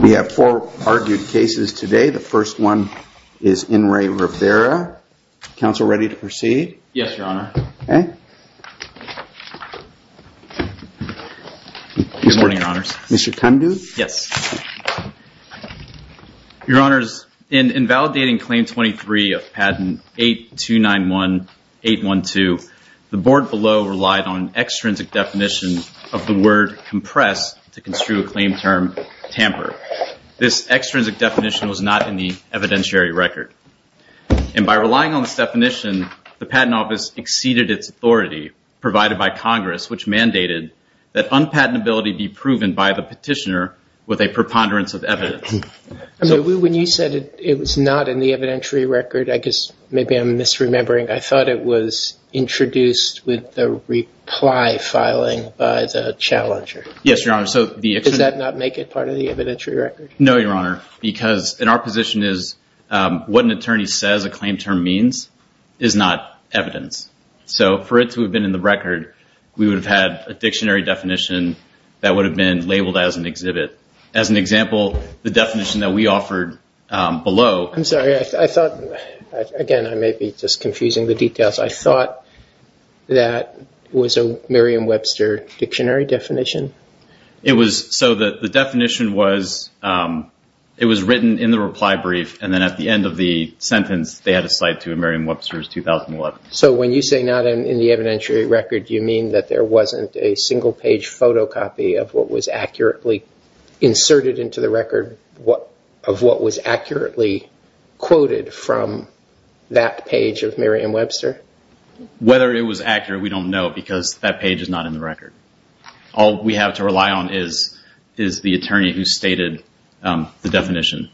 We have four argued cases today. The first one is In Re Rivera. Council ready to proceed? Yes, Your Honor. Good morning, Your Honors. Mr. Tundu? Yes. Your Honors, in invalidating Claim 23 of Patent 8291-812, the board below relied on an untrue acclaimed term, tamper. This extrinsic definition was not in the evidentiary record. And by relying on this definition, the Patent Office exceeded its authority provided by Congress which mandated that unpatentability be proven by the petitioner with a preponderance of evidence. When you said it was not in the evidentiary record, I guess maybe I'm misremembering. I thought it was introduced with the reply filing by the challenger. Yes, Your Honor. Does that not make it part of the evidentiary record? No, Your Honor. Because in our position is what an attorney says a claim term means is not evidence. So for it to have been in the record, we would have had a dictionary definition that would have been labeled as an exhibit. As an example, the definition that we offered below... I'm sorry. Again, I may be just confusing the details. I thought that was a Merriam-Webster dictionary definition. So the definition was it was written in the reply brief and then at the end of the sentence they had a cite to Merriam-Webster's 2011. So when you say not in the evidentiary record, you mean that there wasn't a single page photocopy of what was accurately inserted into the record of what was accurately quoted from that page of Merriam-Webster? Whether it was accurate, we don't know because that page is not in the record. All we have to rely on is the attorney who stated the definition.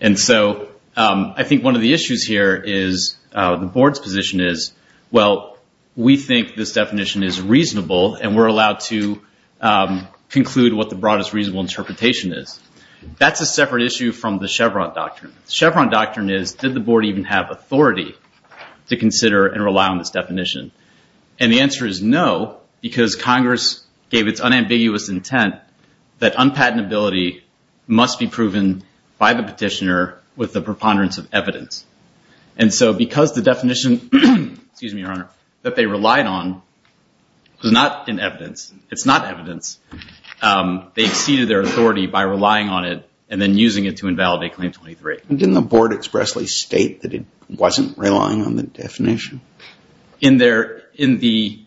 And so I think one of the issues here is the board's position is, well, we think this definition is reasonable and we're not. That's a separate issue from the Chevron doctrine. The Chevron doctrine is did the board even have authority to consider and rely on this definition? And the answer is no because Congress gave its unambiguous intent that unpatentability must be proven by the petitioner with the preponderance of evidence. And so because the definition that they relied on was not in evidence, it's not evidence, they exceeded their authority by relying on it and then using it to invalidate Claim 23. Didn't the board expressly state that it wasn't relying on the definition? In the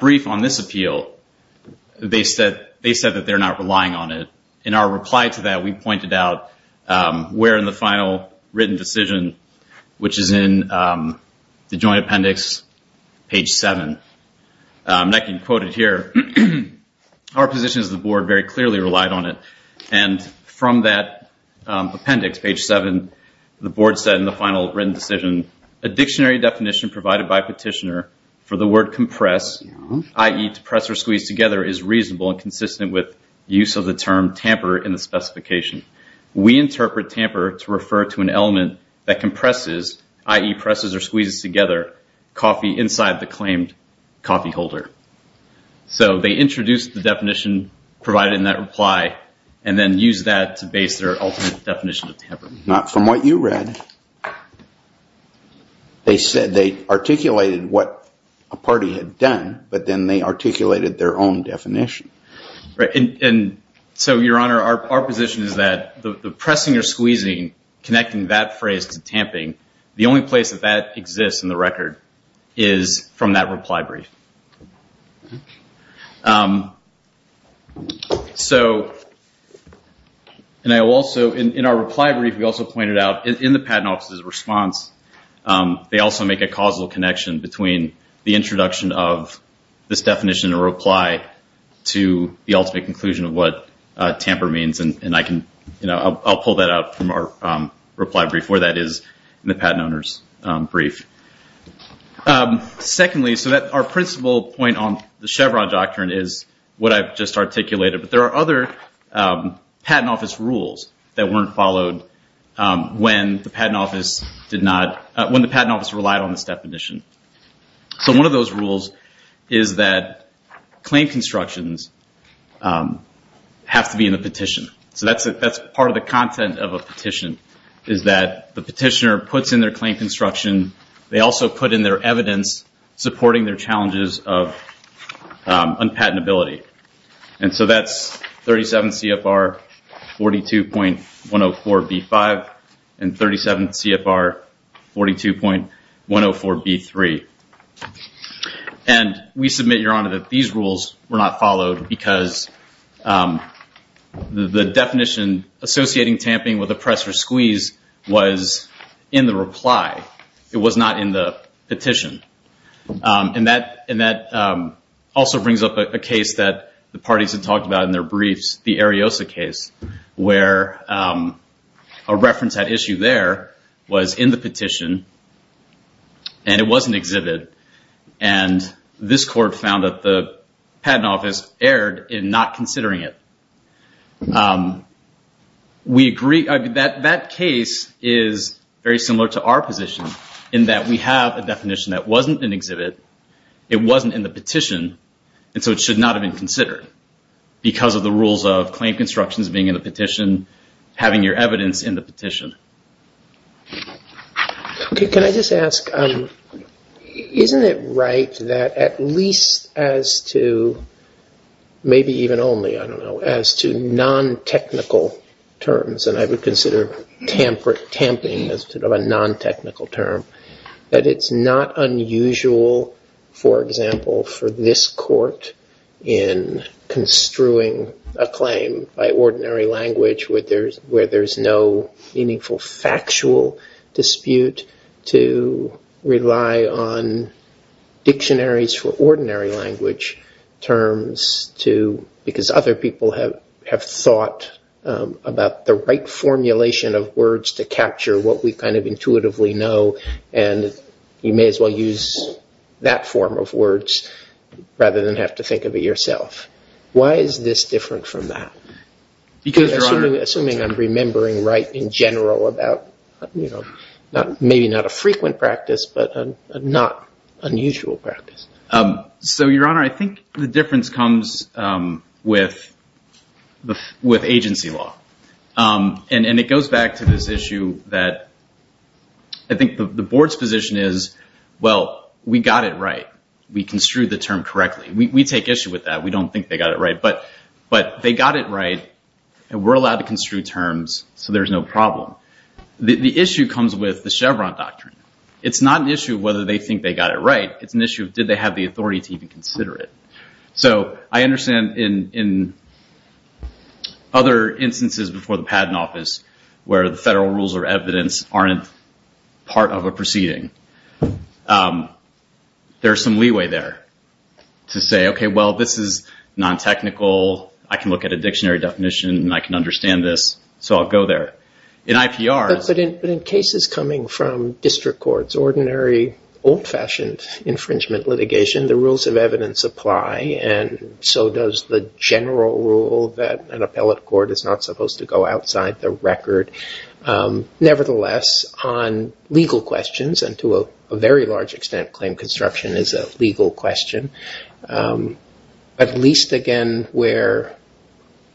brief on this appeal, they said that they're not relying on it. In our reply to that, we pointed out where in the final written decision, which is in the joint appendix, page 7, and I can quote it here, our position is the board very clearly relied on it. And from that appendix, page 7, the board said in the final written decision, a dictionary definition provided by petitioner for the word compress, i.e. to press or squeeze together, is reasonable and consistent with use of the term tamper in the specification. We interpret tamper to refer to an element that compresses, i.e. presses or squeezes together, coffee inside the claimed coffee holder. So they introduced the definition provided in that reply and then used that to base their ultimate definition of tamper. Not from what you read. They said they articulated what a party had done, but then they articulated their own definition. Right. And so, Your Honor, our position is that the pressing or squeezing, connecting that phrase to tamping, the only place that that exists in the record is from that reply brief. In our reply brief, we also pointed out in the Patent Office's response, they also make a causal connection between the introduction of this definition or reply to the ultimate conclusion of what tamper means. And I'll pull that out from our reply brief where that is in the Patent Owner's brief. Secondly, so our principal point on the Chevron Doctrine is what I've just articulated. But there are other Patent Office rules that weren't followed when the Patent Office relied on this definition. So one of those rules is that claim constructions have to be in the petition. So that's part of the content of a petition, is that the petitioner puts in their claim construction. They also put in their evidence supporting their challenges of unpatentability. And so that's 37 CFR 42.104B5 and 37 CFR 42.104B6. And we submit, Your Honor, that these rules were not followed because the definition associating tamping with a press or squeeze was in the reply. It was not in the petition. And that also brings up a case that the parties have talked about in their briefs, the Ariosa case, where a reference at issue there was in the petition. And it was an exhibit. And this court found that the Patent Office erred in not considering it. We agree. That case is very similar to our position in that we have a definition that wasn't an exhibit. It wasn't in the petition. And so it should not have been considered because of the rules of claim constructions being in the petition, having your evidence in the petition. Okay. Can I just ask, isn't it right that at least as to, maybe even only, I don't know, as to non-technical terms, and I would consider tamping as sort of a non-technical term, that it's not unusual, for example, for this court in construing a claim by ordinary language where there's no meaningful factual dispute to rely on dictionaries for ordinary language terms to, because other people have thought about the right formulation of words to capture what we kind of intuitively know, and you may as well use that form of words rather than have to think of it yourself. Why is this different from that? Assuming I'm remembering right in general about maybe not a frequent practice, but not unusual practice. So Your Honor, I think the difference comes with agency law. And it goes back to this issue that I think the board's position is, well, we got it right. We construed the term correctly. We take issue with that. We don't think they got it right. But they got it right, and we're allowed to construe terms, so there's no problem. The issue comes with the Chevron doctrine. It's not an issue of whether they think they got it right. It's an issue of did they have the authority to even consider it. So I understand in other instances before the Patent Office where the federal rules or evidence aren't part of a proceeding, there's some leeway there to say, okay, well, this is non-technical. I can look at a dictionary definition, and I can understand this, so I'll go there. In IPRs... But in cases coming from district courts, ordinary old-fashioned infringement litigation, the rules of evidence apply, and so does the general rule that an appellate court is not able to enforce. Nevertheless, on legal questions, and to a very large extent, claim construction is a legal question, at least again where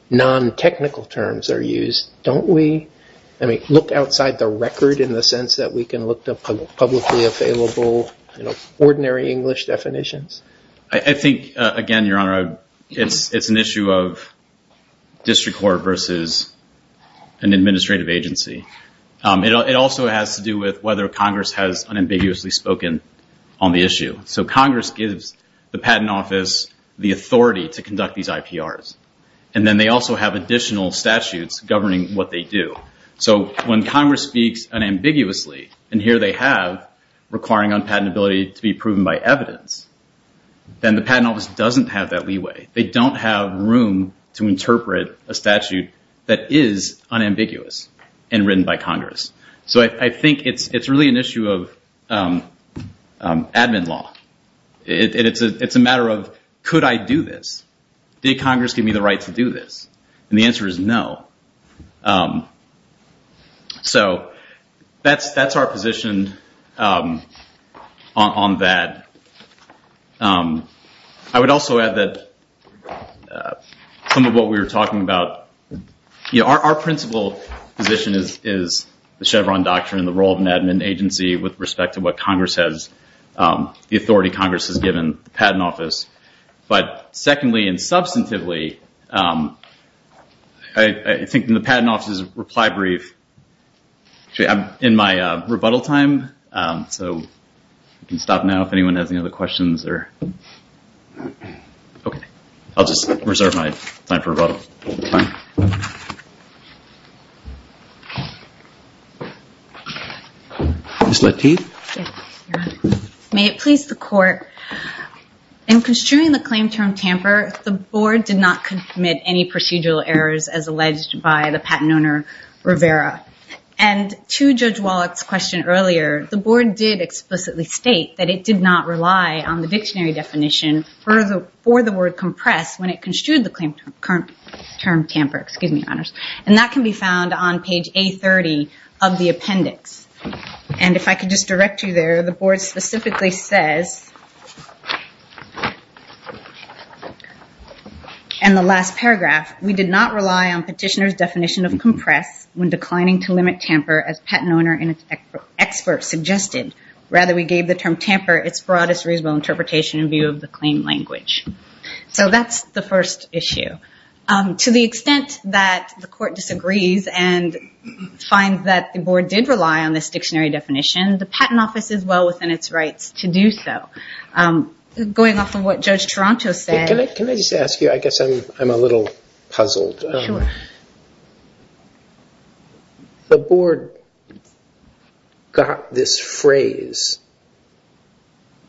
non-technical terms are used, don't we look outside the record in the sense that we can look at publicly available ordinary English definitions? I think, again, Your Honor, it's an issue of district court versus an administrative agency. It also has to do with whether Congress has unambiguously spoken on the issue. So Congress gives the Patent Office the authority to conduct these IPRs, and then they also have additional statutes governing what they do. So when Congress speaks unambiguously, and here they have requiring unpatentability to be proven by evidence, then the Patent Office doesn't have that leeway. They don't have room to interpret a statute that is unambiguous. And written by Congress. So I think it's really an issue of admin law. It's a matter of, could I do this? Did Congress give me the right to do this? And the answer is no. So that's our position on that. I would also add that some of what we were talking about, our principal position is the Chevron doctrine and the role of an admin agency with respect to what Congress has, the authority Congress has given the Patent Office. But secondly and substantively, I think in the Patent Office's reply brief, actually I'm in my rebuttal time, so we can stop now if anyone has any other questions. Okay. I'll just reserve my time for rebuttal. Ms. Lateef? Yes, Your Honor. May it please the Court, in construing the claim term tamper, the Board did not commit any procedural errors as alleged by the patent owner Rivera. And to Judge Wallach's question earlier, the Board did explicitly state that it did not rely on the dictionary definition for the word compress when it construed the term tamper. And that can be found on page A30 of the appendix. And if I could just direct you there, the Board specifically says in the last paragraph, we did not rely on petitioner's definition of compress when declining to limit tamper as patent owner and expert suggested. Rather, we gave the term tamper its broadest reasonable interpretation in view of the claim language. So that's the first issue. To the extent that the Court disagrees and finds that the Board did rely on this dictionary definition, the Patent Office is well within its rights to do so. Going off of what Judge Taranto said... Can I just ask you, I guess I'm a little puzzled. Sure. The Board got this phrase,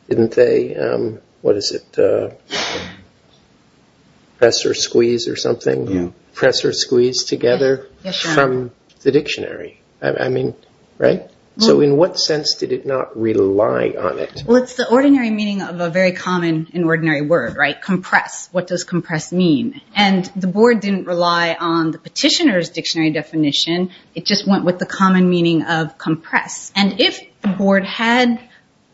didn't they? What is it? Press or squeeze or something? Press or squeeze together from the dictionary. I mean, right? So in what sense did it not rely on it? Well, it's the ordinary meaning of a very common and ordinary word, right? Compress. What does dictionary definition? It just went with the common meaning of compress. And if the Board had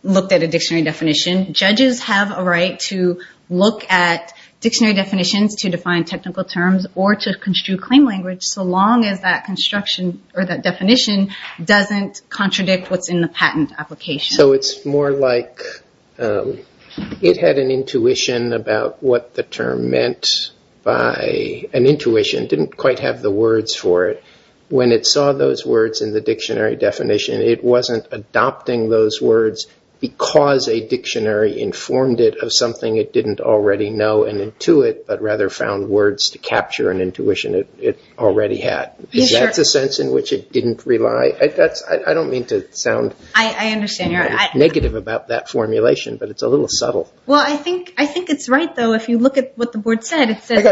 looked at a dictionary definition, judges have a right to look at dictionary definitions to define technical terms or to construe claim language so long as that construction or that definition doesn't contradict what's in the patent application. So it's more like it had an intuition about what the term meant by an intuition, didn't quite have the words for it. When it saw those words in the dictionary definition, it wasn't adopting those words because a dictionary informed it of something it didn't already know and intuit, but rather found words to capture an intuition it already had. Is that the sense in which it didn't rely? I don't mean to sound negative about that formulation, but it's a little subtle. Well, I think it's right, though. If you look at what the Board said, it says...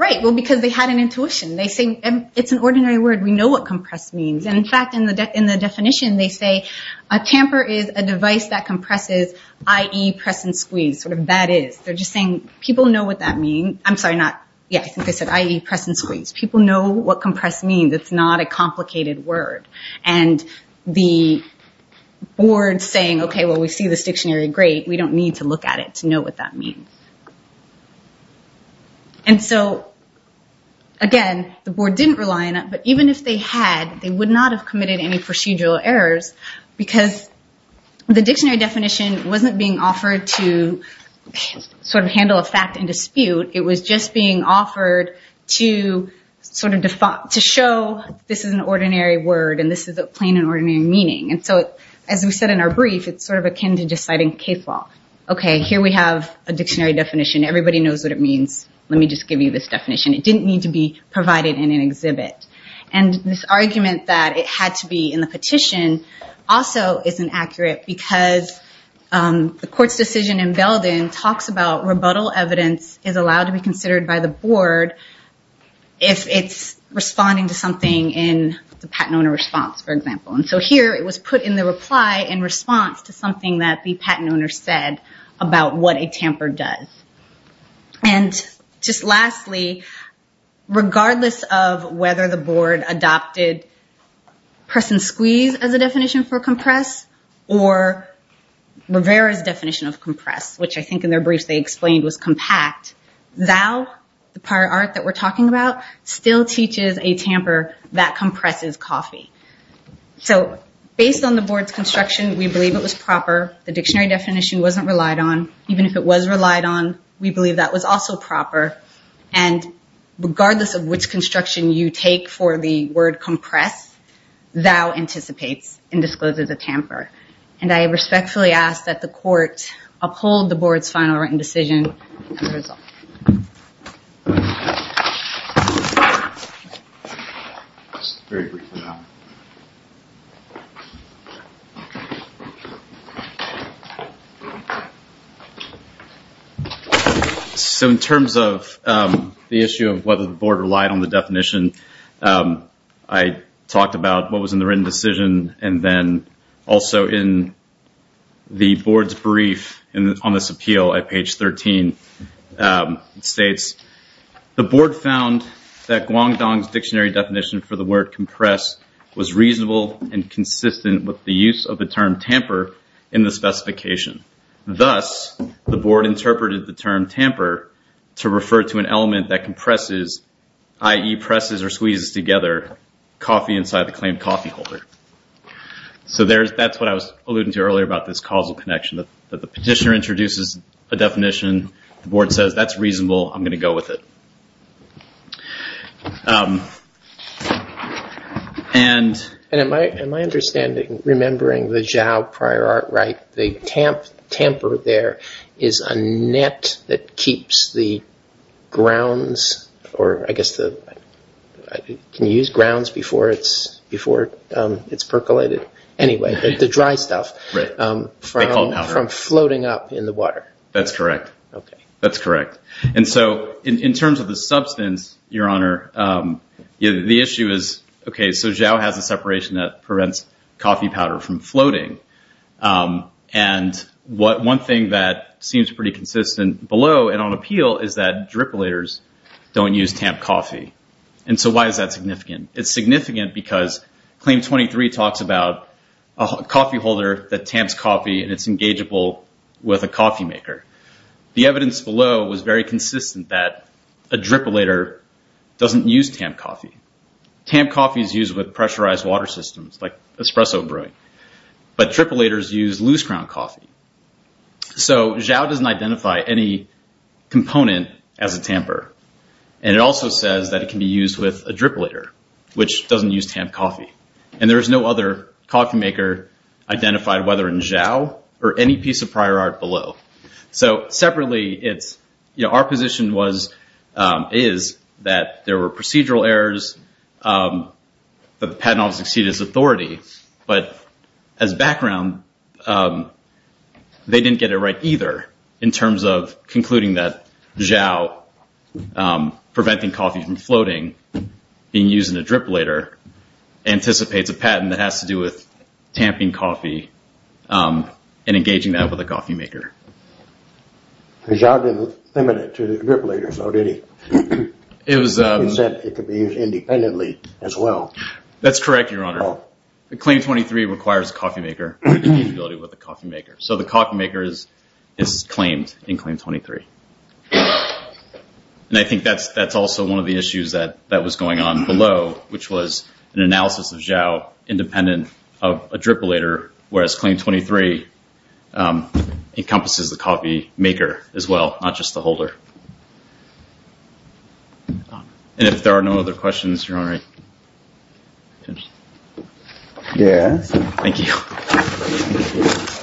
Right, well, because they had an intuition. They say it's an ordinary word. We know what compress means. And in fact, in the definition, they say a tamper is a device that compresses, i.e., press and squeeze, sort of that is. They're just saying people know what that mean. I'm sorry, not... Yeah, I think they said, i.e., press and squeeze. People know what compress means. It's not a complicated word. And the Board's saying, okay, well, we see this dictionary, great. We don't need to look at it to know what that means. And so, again, the Board didn't rely on it, but even if they had, they would not have committed any procedural errors because the dictionary definition wasn't being offered to handle a fact and dispute. It was just being offered to show this is an ordinary word and this is a plain and ordinary meaning. And so, as we said in our brief, it's akin to just citing case law. Okay, here we have a dictionary definition. Everybody knows what it means. Let me just give you this definition. It didn't need to be provided in an exhibit. And this argument that it had to be in the petition also isn't accurate because the court's decision in Belden talks about rebuttal evidence is allowed to be considered by the Board if it's responding to something in the patent owner response, for example. And so here, it was put in the reply in response to something that the patent owner said about what a tamper does. And just lastly, regardless of whether the Board adopted press and squeeze as a definition for compress or Rivera's definition of compress, which I think in their brief they explained was compact, thou, the prior art that we're talking about, still teaches a tamper that compresses So based on the Board's construction, we believe it was proper. The dictionary definition wasn't relied on. Even if it was relied on, we believe that was also proper. And regardless of which construction you take for the word compress, thou anticipates and discloses a tamper. And I respectfully ask that the court uphold the Board's final written decision. So in terms of the issue of whether the Board relied on the definition, I talked about what in the Board's brief on this appeal at page 13. It states, the Board found that Guangdong's dictionary definition for the word compress was reasonable and consistent with the use of the term tamper in the specification. Thus, the Board interpreted the term tamper to refer to an element that compresses, i.e. presses or squeezes together coffee inside the claimed coffee holder. So that's what I was alluding to earlier about this causal connection, that the petitioner introduces a definition, the Board says that's reasonable, I'm going to go with it. And in my understanding, remembering the Zhao prior art, the tamper there is a net that keeps grounds before it's percolated. Anyway, the dry stuff from floating up in the water. That's correct. And so in terms of the substance, Your Honor, the issue is, okay, so Zhao has a separation that prevents coffee powder from floating. And one thing that seems pretty consistent below and on appeal is that drippolators don't use tamped coffee. And so why is that significant? It's significant because Claim 23 talks about a coffee holder that tamps coffee and it's engageable with a coffee maker. The evidence below was very consistent that a drippolator doesn't use tamped coffee. Tamped coffee is used with pressurized water systems like espresso brewing, but drippolators use loose ground coffee. So Zhao doesn't identify any component as a tamper. And it also says that it can be used with a drippolator, which doesn't use tamped coffee. And there's no other coffee maker identified, whether in Zhao or any piece of prior art below. So separately, our position is that there were procedural errors, that the patent office exceeded its authority, but as background, they didn't get it right either in terms of concluding that Zhao preventing coffee from floating, being used in a drippolator, anticipates a patent that has to do with tamping coffee and engaging that with a coffee maker. Zhao didn't limit it to the drippolators, though, did he? He said it could be used independently as well. That's correct, Your Honor. Claim 23 requires a coffee maker to engage with a coffee maker. So the coffee maker is claimed in Claim 23. And I think that's also one of the issues that was going on below, which was an analysis of Zhao independent of a drippolator, whereas Claim 23 encompasses the coffee maker as well, not just the holder. And if there are no other questions, Your Honor, thank you.